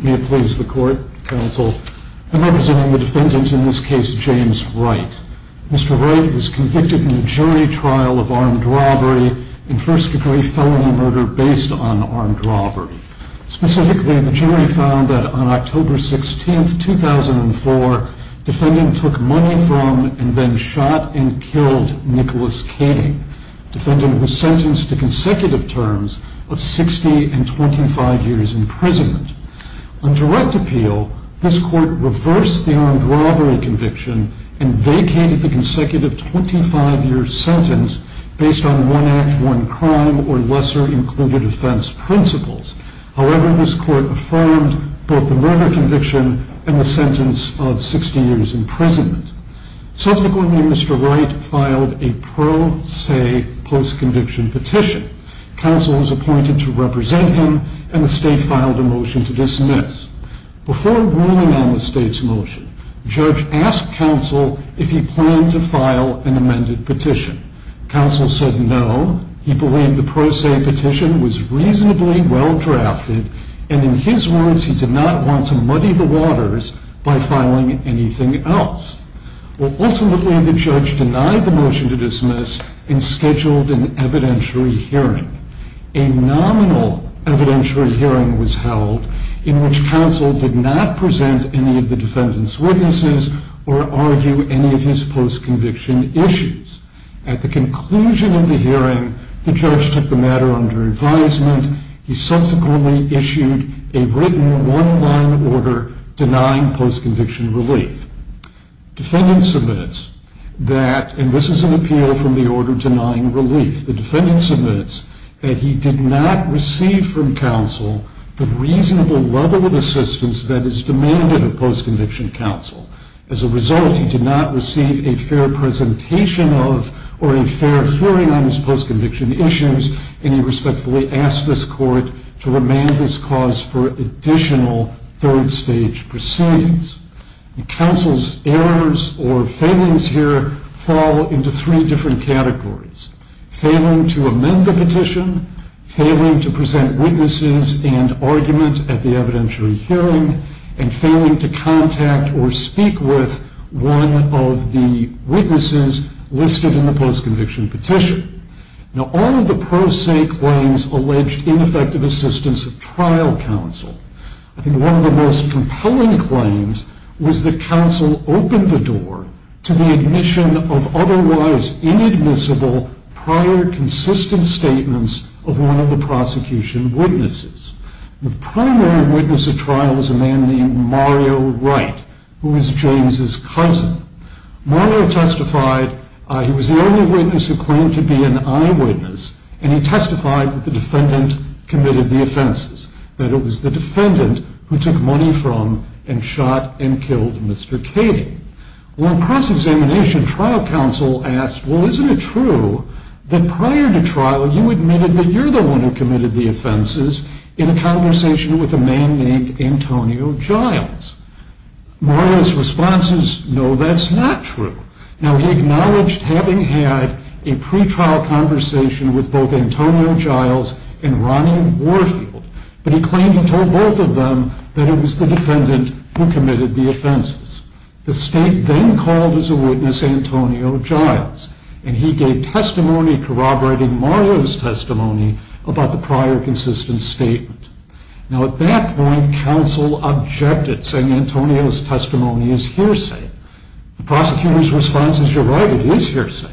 May it please the Court, Counsel, I am representing the defendant, in this case, James Wright. Mr. Wright was convicted in the jury trial of armed robbery and first degree felony murder based on armed robbery. Specifically, the jury found that on October 16, 2004, defendant took money from and then shot and killed Nicholas Kading. Defendant was sentenced to consecutive terms of 60 and 25 years imprisonment. On direct appeal, this Court reversed the armed robbery conviction and vacated the consecutive 25 year sentence based on one act, one crime, or lesser included offense principles. However, this Court affirmed both the murder conviction and the sentence of 60 years imprisonment. Subsequently, Mr. Wright filed a pro se post conviction petition. Counsel was appointed to represent him and the State filed a motion to dismiss. Before ruling on the State's motion, Judge asked Counsel if he planned to file an amended petition. Counsel said no, he believed the pro se petition was reasonably well drafted and in his words he did not want to muddy the waters by filing anything else. Ultimately, the Judge denied the motion to dismiss and scheduled an evidentiary hearing. A nominal evidentiary hearing was held in which Counsel did not present any of the defendant's witnesses or argue any of his post conviction issues. At the conclusion of the hearing, the Judge took the matter under advisement. He subsequently issued a written one-line order denying post conviction relief. Defendant submits that, and this is an appeal from the order denying relief, the defendant submits that he did not receive from Counsel the reasonable level of assistance that is demanded of post conviction Counsel. As a result, he did not receive a fair presentation of or a fair hearing on his post conviction issues and he respectfully asked this court to remand this cause for additional third stage proceedings. Counsel's errors or failings here fall into three different categories. Failing to amend the petition, failing to present witnesses and argument at the evidentiary hearing, and failing to contact or speak with one of the witnesses listed in the post conviction petition. Now all of the pro se claims alleged ineffective assistance of trial Counsel. I think one of the most compelling claims was that Counsel opened the door to the admission of otherwise inadmissible prior consistent statements of one of the prosecution witnesses. The primary witness of trial was a man named Mario Wright, who was James' cousin. Mario testified he was the only witness who claimed to be an eyewitness and he testified that the defendant committed the offenses. That it was the defendant who took money from and shot and killed Mr. Cady. Well in cross examination trial Counsel asked well isn't it true that prior to trial you admitted that you're the one who committed the offenses in a conversation with a man named Antonio Giles. Mario's response is no that's not true. Now he acknowledged having had a pretrial conversation with both Antonio Giles and Ronnie Warfield. But he claimed he told both of them that it was the defendant who committed the offenses. The state then called as a witness Antonio Giles and he gave testimony corroborating Mario's testimony about the prior consistent statement. Now at that point Counsel objected saying Antonio's testimony is hearsay. The prosecutor's response is you're right it is hearsay.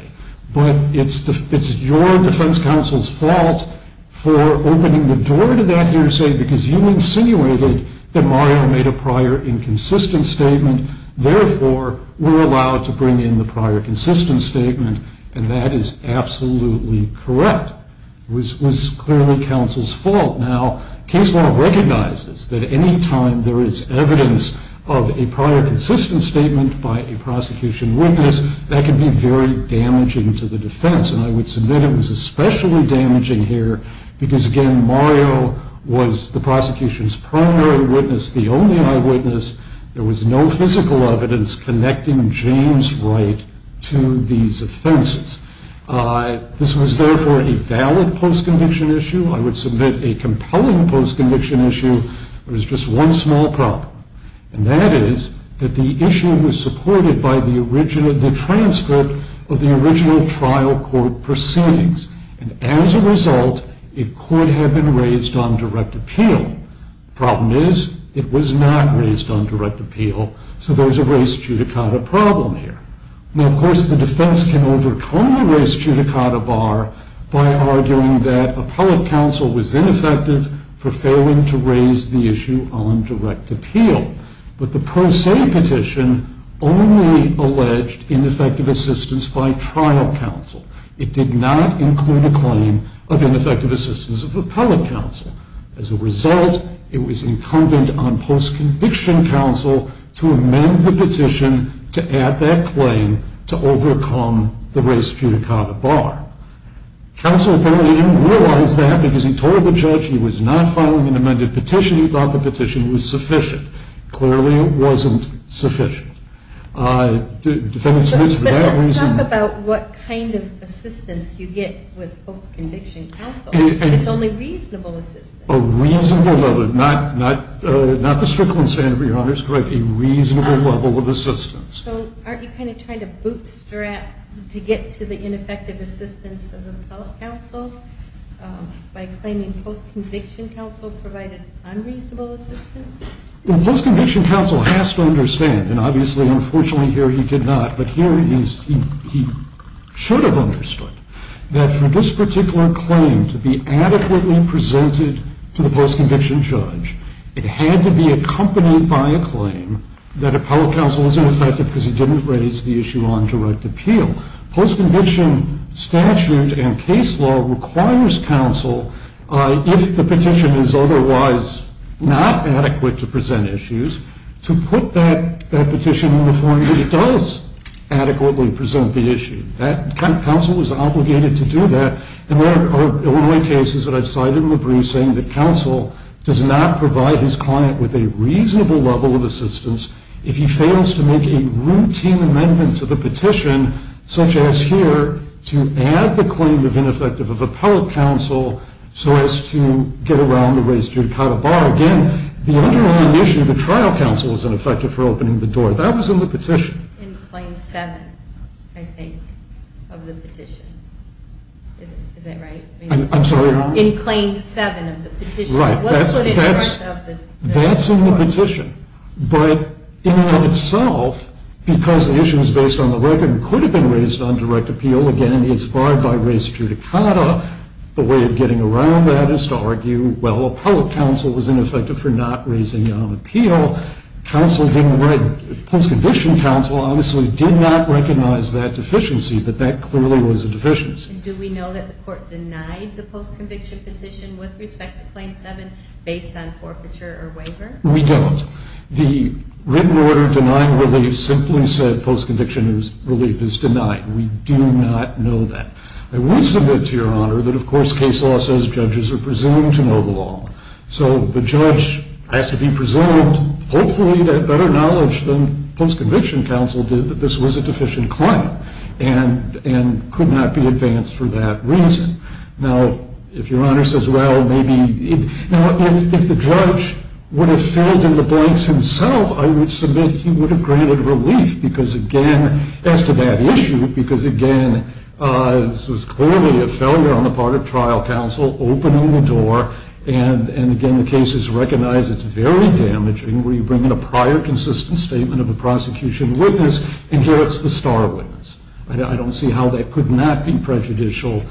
But it's your defense counsel's fault for opening the door to that hearsay because you insinuated that Mario made a prior inconsistent statement. Therefore we're allowed to bring in the prior consistent statement and that is absolutely correct. It was clearly Counsel's fault. Now case law recognizes that any time there is evidence of a prior consistent statement by a prosecution witness that can be very damaging to the defense. And I would submit it was especially damaging here because again Mario was the prosecution's primary witness the only eyewitness. There was no physical evidence connecting James Wright to these offenses. This was therefore a valid post-conviction issue. I would submit a compelling post-conviction issue. There was just one small problem. And that is that the issue was supported by the transcript of the original trial court proceedings. And as a result it could have been raised on direct appeal. The problem is it was not raised on direct appeal. So there's a race judicata problem here. Now of course the defense can overcome the race judicata bar by arguing that appellate counsel was ineffective for failing to raise the issue on direct appeal. But the pro se petition only alleged ineffective assistance by trial counsel. It did not include a claim of ineffective assistance of appellate counsel. As a result it was incumbent on post-conviction counsel to amend the petition to add that claim to overcome the race judicata bar. Counsel apparently didn't realize that because he told the judge he was not filing an amended petition. He thought the petition was sufficient. Clearly it wasn't sufficient. Let's talk about what kind of assistance you get with post-conviction counsel. It's only reasonable assistance. A reasonable level. Not the Strickland standard, Your Honor. It's a reasonable level of assistance. So aren't you kind of trying to bootstrap to get to the ineffective assistance of appellate counsel by claiming post-conviction counsel provided unreasonable assistance? Well, post-conviction counsel has to understand, and obviously unfortunately here he did not, but here he should have understood, that for this particular claim to be adequately presented to the post-conviction judge, it had to be accompanied by a claim that appellate counsel was ineffective because he didn't raise the issue on direct appeal. Post-conviction statute and case law requires counsel, if the petition is otherwise not adequate to present issues, to put that petition in the form that it does adequately present the issue. Counsel is obligated to do that. And there are Illinois cases that I've cited in the briefs saying that counsel does not provide his client with a reasonable level of assistance if he fails to make a routine amendment to the petition, such as here, to add the claim of ineffective of appellate counsel so as to get around the raised judicata bar. Again, the underlying issue, the trial counsel was ineffective for opening the door. That was in the petition. In claim 7, I think, of the petition. Is that right? I'm sorry, Your Honor? In claim 7 of the petition. Right. That's in the petition. But in and of itself, because the issue is based on the record and could have been raised on direct appeal, again, it's barred by raised judicata, the way of getting around that is to argue, well, appellate counsel was ineffective for not raising it on appeal. Post-conviction counsel obviously did not recognize that deficiency, but that clearly was a deficiency. Do we know that the court denied the post-conviction petition with respect to claim 7 based on forfeiture or waiver? We don't. The written order denying relief simply said post-conviction relief is denied. We do not know that. I will submit to Your Honor that, of course, case law says judges are presumed to know the law, so the judge has to be presumed hopefully to have better knowledge than post-conviction counsel did that this was a deficient claim and could not be advanced for that reason. Now, if Your Honor says, well, maybe if the judge would have filled in the blanks himself, I would submit he would have granted relief because, again, as to that issue, because, again, this was clearly a failure on the part of trial counsel opening the door. And, again, the case is recognized. It's very damaging where you bring in a prior consistent statement of a prosecution witness, and here it's the star witness. I don't see how that could not be prejudicial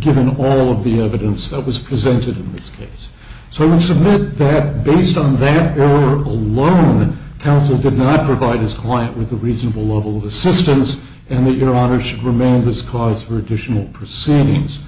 given all of the evidence that was presented in this case. So I would submit that, based on that error alone, counsel did not provide his client with a reasonable level of assistance and that Your Honor should remain this cause for additional proceedings.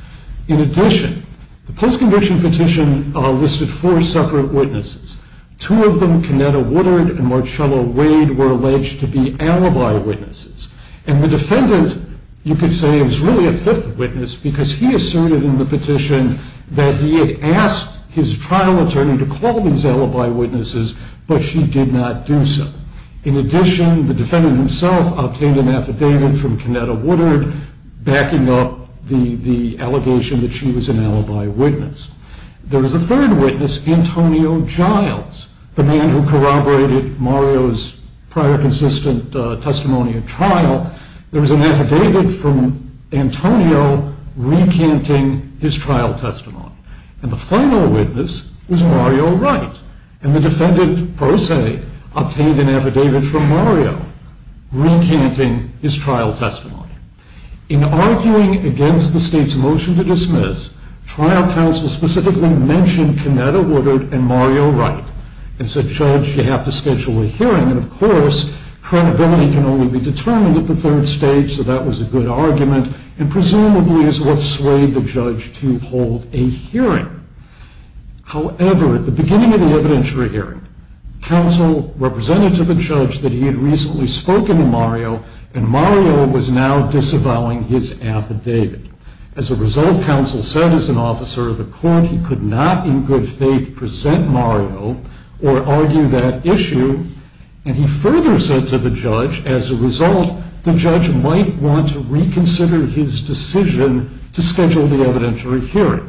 In addition, the post-conviction petition listed four separate witnesses. Two of them, Kanetta Woodard and Marcello Wade, were alleged to be alibi witnesses, and the defendant, you could say, was really a fifth witness because he asserted in the petition that he had asked his trial attorney to call these alibi witnesses, but she did not do so. In addition, the defendant himself obtained an affidavit from Kanetta Woodard backing up the allegation that she was an alibi witness. There was a third witness, Antonio Giles, the man who corroborated Mario's prior consistent testimony at trial. There was an affidavit from Antonio recanting his trial testimony, and the final witness was Mario Wright, and the defendant, per se, obtained an affidavit from Mario recanting his trial testimony. Trial counsel specifically mentioned Kanetta Woodard and Mario Wright and said, Judge, you have to schedule a hearing, and, of course, credibility can only be determined at the third stage, so that was a good argument and presumably is what swayed the judge to hold a hearing. However, at the beginning of the evidentiary hearing, counsel represented to the judge that he had recently spoken to Mario, and Mario was now disavowing his affidavit. As a result, counsel said, as an officer of the court, he could not in good faith present Mario or argue that issue, and he further said to the judge, as a result, the judge might want to reconsider his decision to schedule the evidentiary hearing.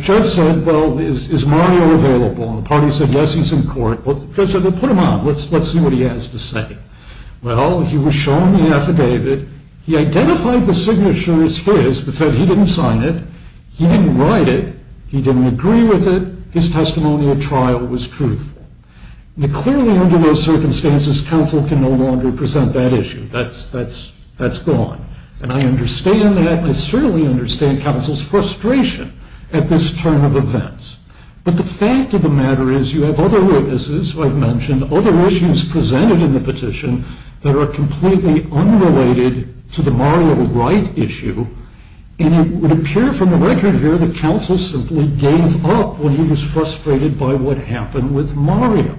Judge said, well, is Mario available? And the party said, yes, he's in court. Judge said, well, put him on. Let's see what he has to say. Well, he was shown the affidavit. He identified the signature as his, but said he didn't sign it. He didn't write it. He didn't agree with it. His testimony at trial was truthful. Now, clearly under those circumstances, counsel can no longer present that issue. That's gone, and I understand that. I certainly understand counsel's frustration at this turn of events, but the fact of the matter is you have other witnesses who I've mentioned, other issues presented in the petition that are completely unrelated to the Mario Wright issue, and it would appear from the record here that counsel simply gave up when he was frustrated by what happened with Mario.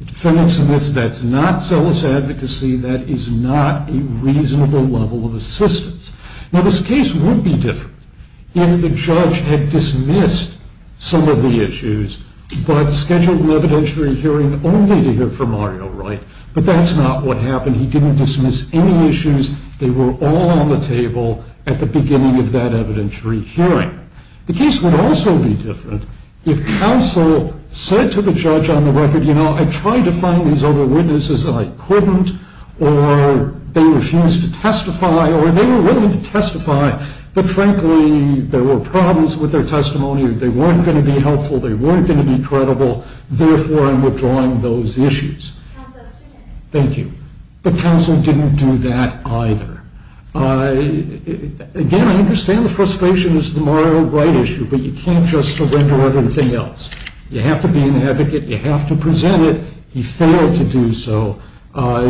That's not zealous advocacy. That is not a reasonable level of assistance. Now, this case would be different if the judge had dismissed some of the issues but scheduled an evidentiary hearing only to hear from Mario Wright, but that's not what happened. He didn't dismiss any issues. They were all on the table at the beginning of that evidentiary hearing. The case would also be different if counsel said to the judge on the record, you know, I tried to find these other witnesses, and I couldn't, or they refused to testify, or they were willing to testify, but frankly there were problems with their testimony. They weren't going to be helpful. They weren't going to be credible. Therefore, I'm withdrawing those issues. Thank you. But counsel didn't do that either. Again, I understand the frustration is the Mario Wright issue, but you can't just surrender everything else. You have to be an advocate. You have to present it. He failed to do so,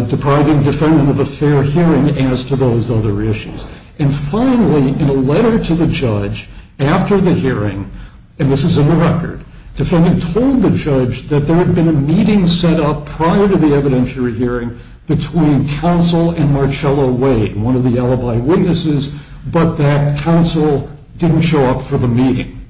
depriving defendant of a fair hearing as to those other issues. And finally, in a letter to the judge after the hearing, and this is in the record, defendant told the judge that there had been a meeting set up prior to the evidentiary hearing between counsel and Marcello Wade, one of the alibi witnesses, but that counsel didn't show up for the meeting,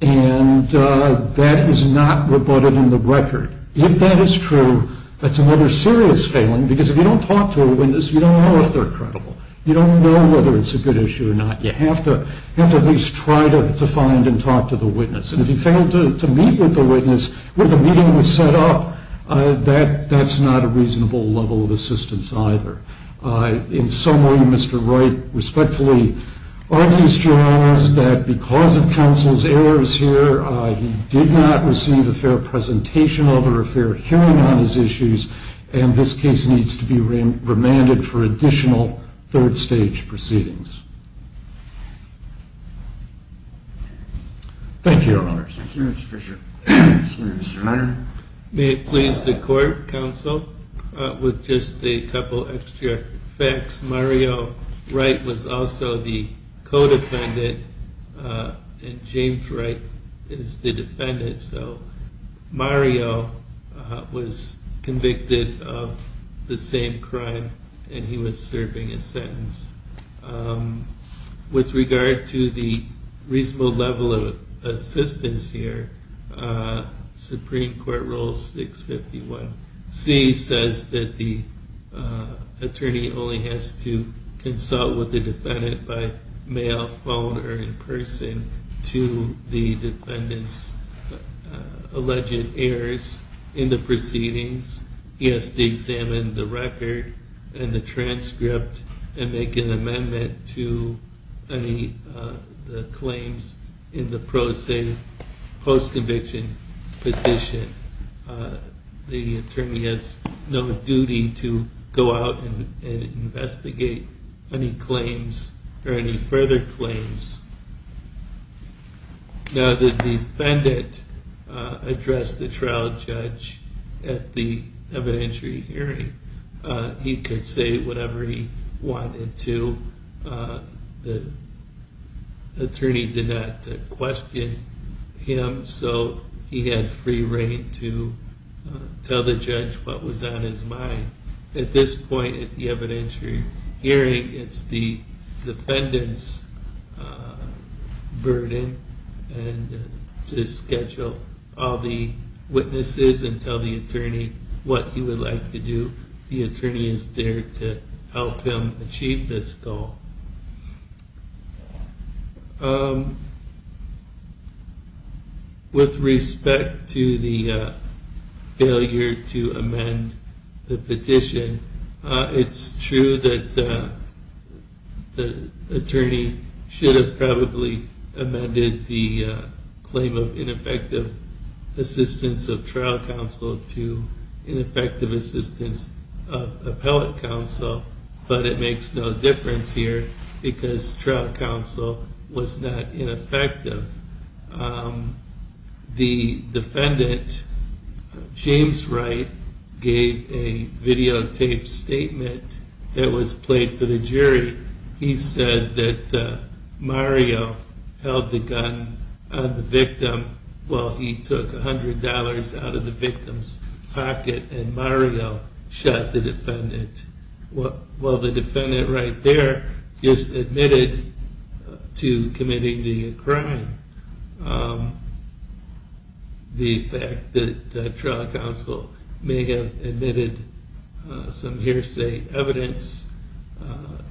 and that is not rebutted in the record. If that is true, that's another serious failing, because if you don't talk to a witness, you don't know if they're credible. You don't know whether it's a good issue or not. You have to at least try to find and talk to the witness. And if he failed to meet with the witness when the meeting was set up, that's not a reasonable level of assistance either. In summary, Mr. Wright respectfully argues, Your Honors, that because of counsel's errors here, he did not receive a fair presentation of it or a fair hearing on his issues, and this case needs to be remanded for additional third-stage proceedings. Thank you, Your Honors. Thank you, Mr. Fisher. Senator Schneider. May it please the court, counsel, with just a couple extra facts. Mario Wright was also the co-defendant, and James Wright is the defendant, so Mario was convicted of the same crime, and he was serving a sentence. With regard to the reasonable level of assistance here, Supreme Court Rule 651C says that the attorney only has to consult with the defendant by mail, phone, or in person to the defendant's alleged errors in the proceedings. He has to examine the record and the transcript and make an amendment to any claims in the post-conviction petition. The attorney has no duty to go out and investigate any claims or any further claims. Now, the defendant addressed the trial judge at the evidentiary hearing. He could say whatever he wanted to. The attorney did not question him, so he had free rein to tell the judge what was on his mind. At this point at the evidentiary hearing, it's the defendant's burden to schedule all the witnesses and tell the attorney what he would like to do. The attorney is there to help him achieve this goal. With respect to the failure to amend the petition, it's true that the attorney should have probably amended the claim of ineffective assistance of trial counsel to ineffective assistance of appellate counsel, but it makes no difference here because trial counsel was not ineffective. The defendant, James Wright, gave a videotaped statement that was played for the jury. He said that Mario held the gun on the victim while he took $100 out of the victim's pocket and Mario shot the defendant. While the defendant right there is admitted to committing the crime, the fact that trial counsel may have admitted some hearsay evidence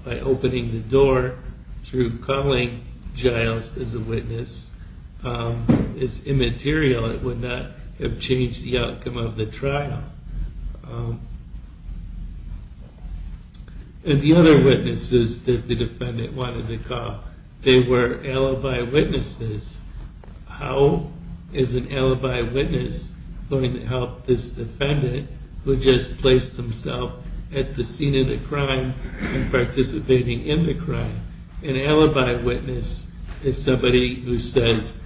by opening the door through calling Giles as a witness is immaterial. It would not have changed the outcome of the trial. The other witnesses that the defendant wanted to call, they were alibi witnesses. How is an alibi witness going to help this defendant who just placed himself at the scene of the crime and participating in the crime? An alibi witness is somebody who says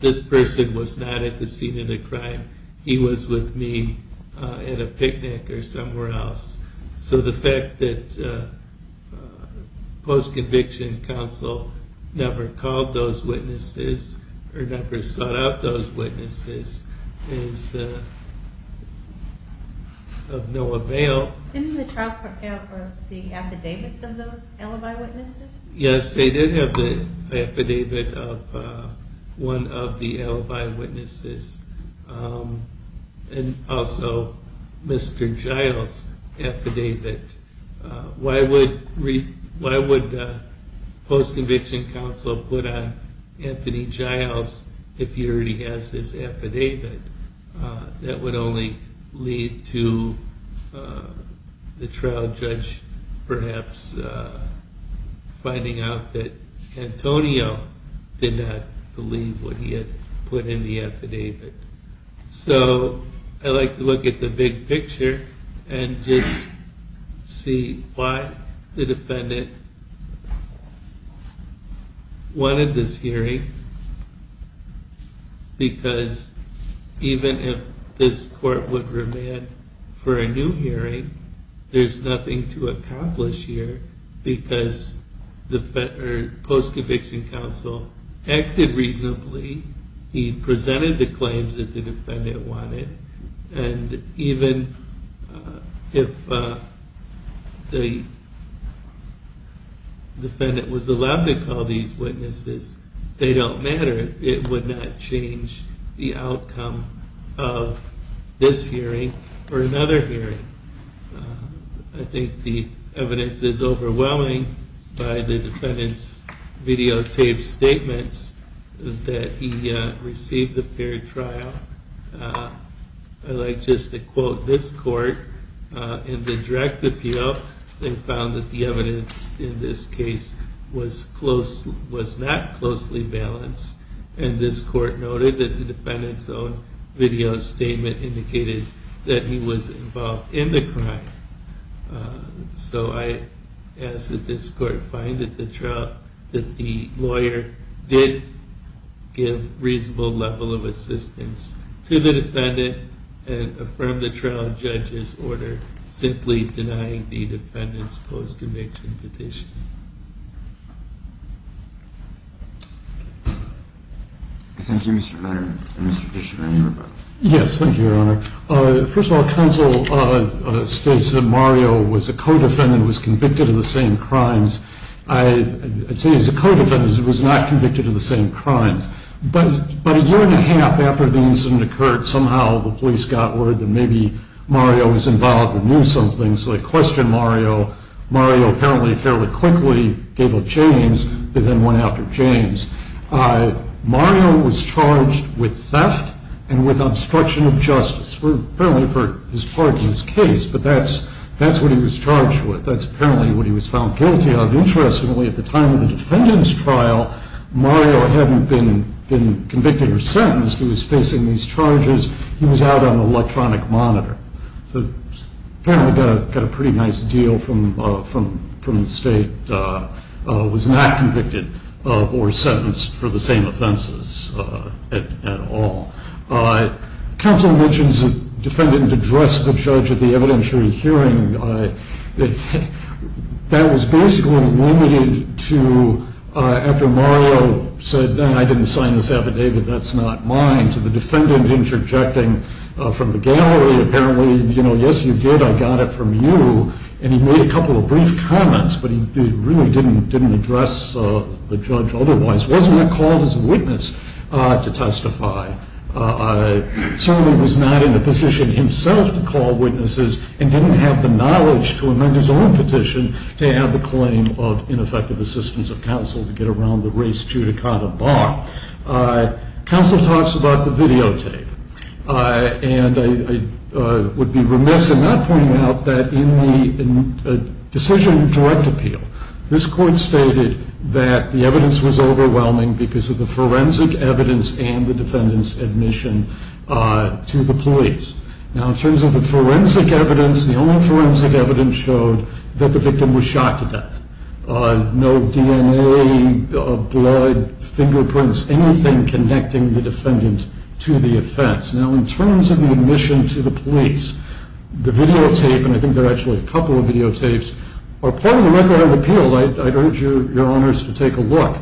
this person was not at the scene of the crime. He was with me at a picnic or somewhere else. So the fact that post-conviction counsel never called those witnesses or never sought out those witnesses is of no avail. Didn't the trial prepare for the affidavits of those alibi witnesses? Yes, they did have the affidavit of one of the alibi witnesses and also Mr. Giles' affidavit. Why would post-conviction counsel put on Anthony Giles if he already has his affidavit? That would only lead to the trial judge perhaps finding out that Antonio did not believe what he had put in the affidavit. So I like to look at the big picture and just see why the defendant wanted this hearing because even if this court would remand for a new hearing, there's nothing to accomplish here because post-conviction counsel acted reasonably, he presented the claims that the defendant wanted, and even if the defendant was allowed to call these witnesses, they don't matter, it would not change the outcome of this hearing or another hearing. I think the evidence is overwhelming by the defendant's videotaped statements that he received the fair trial. I'd like just to quote this court in the direct appeal and found that the evidence in this case was not closely balanced, and this court noted that the defendant's own video statement indicated that he was involved in the crime. So I ask that this court find that the lawyer did give reasonable level of assistance to the defendant and affirm the trial judge's order simply denying the defendant's post-conviction petition. Thank you Mr. Mayor and Mr. Judge. Yes, thank you Your Honor. First of all, counsel states that Mario was a co-defendant and was convicted of the same crimes. I'd say he was a co-defendant and was not convicted of the same crimes, but a year and a half after the incident occurred, somehow the police got word that maybe Mario was involved and knew something, so they questioned Mario. Mario apparently fairly quickly gave up James, and then went after James. Mario was charged with theft and with obstruction of justice, apparently for his part in this case, but that's what he was charged with. That's apparently what he was found guilty of. Interestingly, at the time of the defendant's trial, Mario hadn't been convicted or sentenced. He was facing these charges. He was out on electronic monitor. So apparently got a pretty nice deal from the state. Was not convicted of or sentenced for the same offenses at all. Counsel mentions the defendant addressed the judge at the evidentiary hearing. That was basically limited to after Mario said, I didn't sign this affidavit, that's not mine. To the defendant interjecting from the gallery, apparently, yes you did, I got it from you, and he made a couple of brief comments, but he really didn't address the judge otherwise. Wasn't called as a witness to testify. Certainly was not in the position himself to call witnesses and didn't have the knowledge to amend his own petition to have the claim of ineffective assistance of counsel to get around the race judicata bar. Counsel talks about the videotape and I would be remiss in not pointing out that in the decision direct appeal, this court stated that the evidence was overwhelming because of the forensic evidence and the defendant's admission to the police. Now in terms of the forensic evidence, the only forensic evidence showed that the victim was shot to death. No DNA, blood, fingerprints, anything connecting the defendant to the offense. Now in terms of the admission to the police, the videotape, and I think there are actually a couple of videotapes, are part of the record of appeal. I'd urge your honors to take a look.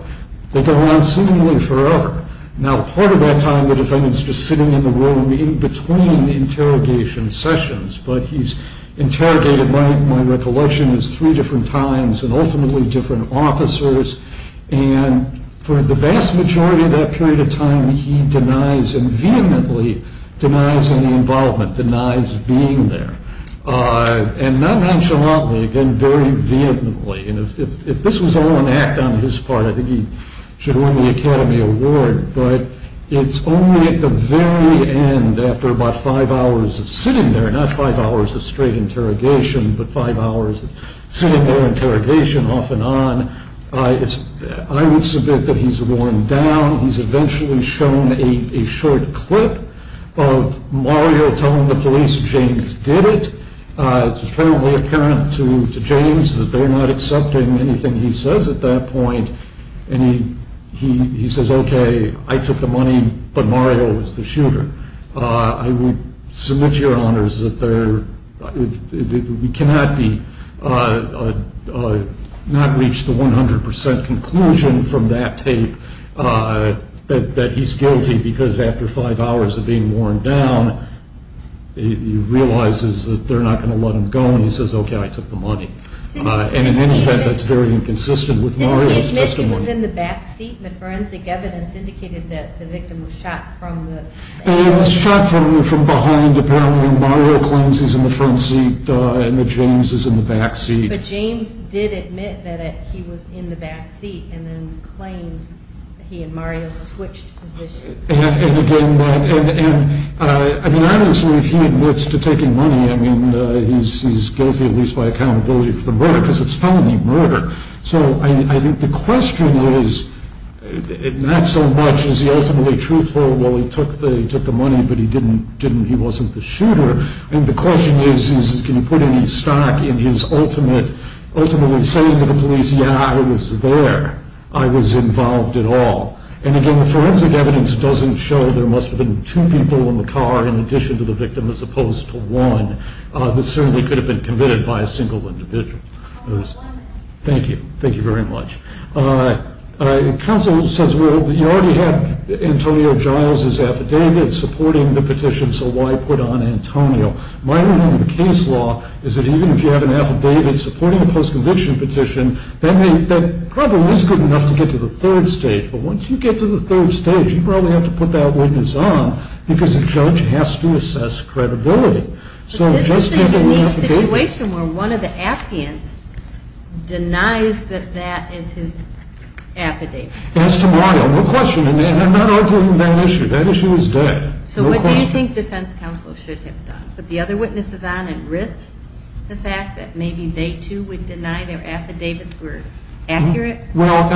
They go on seemingly forever. Now part of that time the defendant's just sitting in the room in between interrogation sessions but he's interrogated, my recollection, three different times and ultimately different officers and for the vast majority of that period of time he denies and vehemently denies any involvement, denies being there. And not nonchalantly, again very vehemently. If this was all an act on his part, I think he should win the Academy Award. But it's only at the very end, after about five hours of sitting there, not five hours of straight interrogation, but five hours of sitting there interrogation off and on, I would submit that he's worn down. He's eventually shown a short clip of Mario telling the police James did it. It's apparently apparent to James that they're not accepting anything he says at that point. And he says, okay, I took the money but Mario was the shooter. I would submit your honors that we cannot reach the 100% conclusion from that tape that he's guilty because after five hours of being worn down, he realizes that they're not going to let him go and he says, okay, I took the money. And in any event, that's very inconsistent with Mario's testimony. Did he admit he was in the back seat? The forensic evidence indicated that the victim was shot from the... He was shot from behind. Apparently Mario claims he's in the front seat and that James is in the back seat. But James did admit that he was in the back seat and then claimed he and Mario switched positions. And again, I don't believe he admits to taking money. I mean, he's guilty at least by accountability for the murder because it's felony murder. So I think the question is not so much is he ultimately truthful? Well, he took the money but he wasn't the shooter. And the question is can he put any stock in his ultimately saying to the police, yeah, I was there. I was involved at all. And again, the forensic evidence doesn't show there must have been two people in the car in addition to the victim as opposed to one. This certainly could have been committed by a single individual. Thank you. Thank you very much. Counsel says, well, you already have Antonio Giles' affidavit supporting the petition, so why put on Antonio? My opinion of the case law is that even if you have an affidavit supporting a post-conviction petition, that probably is good enough to get to the third stage. But once you get to the third stage, you probably have to put that witness on because a judge has to assess credibility. But this is a unique situation where one of the appeants denies that that is his affidavit. As to Mario, no question. And I'm not arguing that issue. That issue is dead. So what do you think defense counsel should have done? Put the other witnesses on and risk the fact that maybe they too would deny their affidavits were accurate? Well,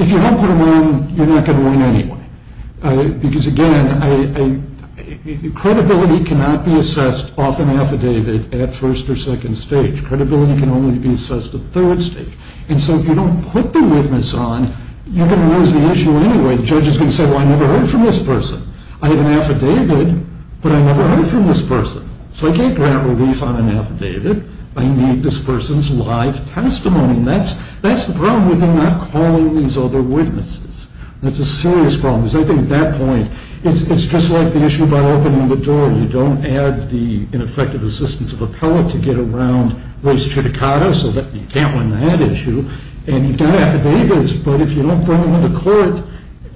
if you don't put them on, you're not going to win anyway. Because, again, credibility cannot be assessed off an affidavit at first or second stage. Credibility can only be assessed at third stage. And so if you don't put the witness on, you're going to lose the issue anyway. The judge is going to say, well, I never heard from this person. I have an affidavit, but I never heard from this person. So I can't grant relief on an affidavit. I need this person's live testimony. And that's the problem with them not calling these other witnesses. That's a serious problem. Because I think at that point, it's just like the issue about opening the door. You don't add the ineffective assistance of appellate to get around race judicata so that you can't win that issue. And you've got affidavits. But if you don't bring them to court,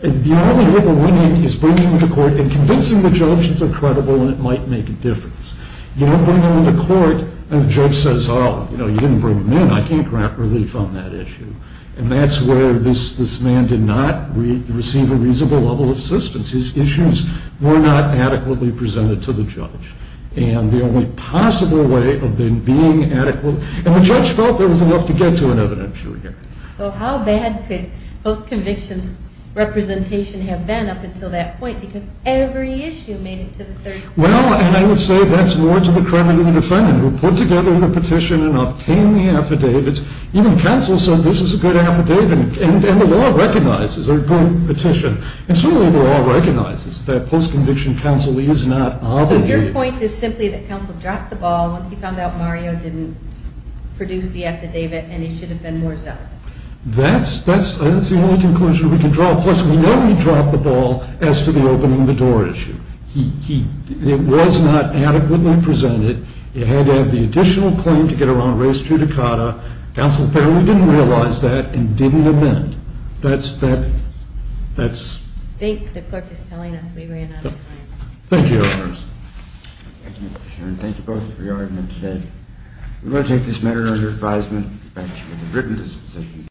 the only way to win it is bringing them to court and convincing the judge that they're credible and it might make a difference. You don't bring them to court and the judge says, oh, you didn't bring them in. I can't grant relief on that issue. And that's where this man did not receive a reasonable level of assistance. His issues were not adequately presented to the judge. And the only possible way of them being adequate And the judge felt there was enough to get to an evidentiary. So how bad could post-conviction's representation have been up until that point? Because every issue made it to the third stage. Well, and I would say that's more to the credit of the defendant who put together the petition and obtained the affidavits. Even counsel said this is a good affidavit. And the law recognizes a good petition. And certainly the law recognizes that post-conviction counsel is not obligated. So your point is simply that counsel dropped the ball once he found out Mario didn't produce the affidavit and he should have been more zealous. That's the only conclusion we can draw. Plus, we know he dropped the ball as to the opening the door issue. It was not adequately presented. It had to have the additional claim to get around race judicata. Counsel apparently didn't realize that and didn't amend. That's... I think the clerk is telling us we ran out of time. Thank you, Your Honors. Thank you, Mr. Chairman. Thank you both for your argument today. We will take this matter under advisement. Thank you.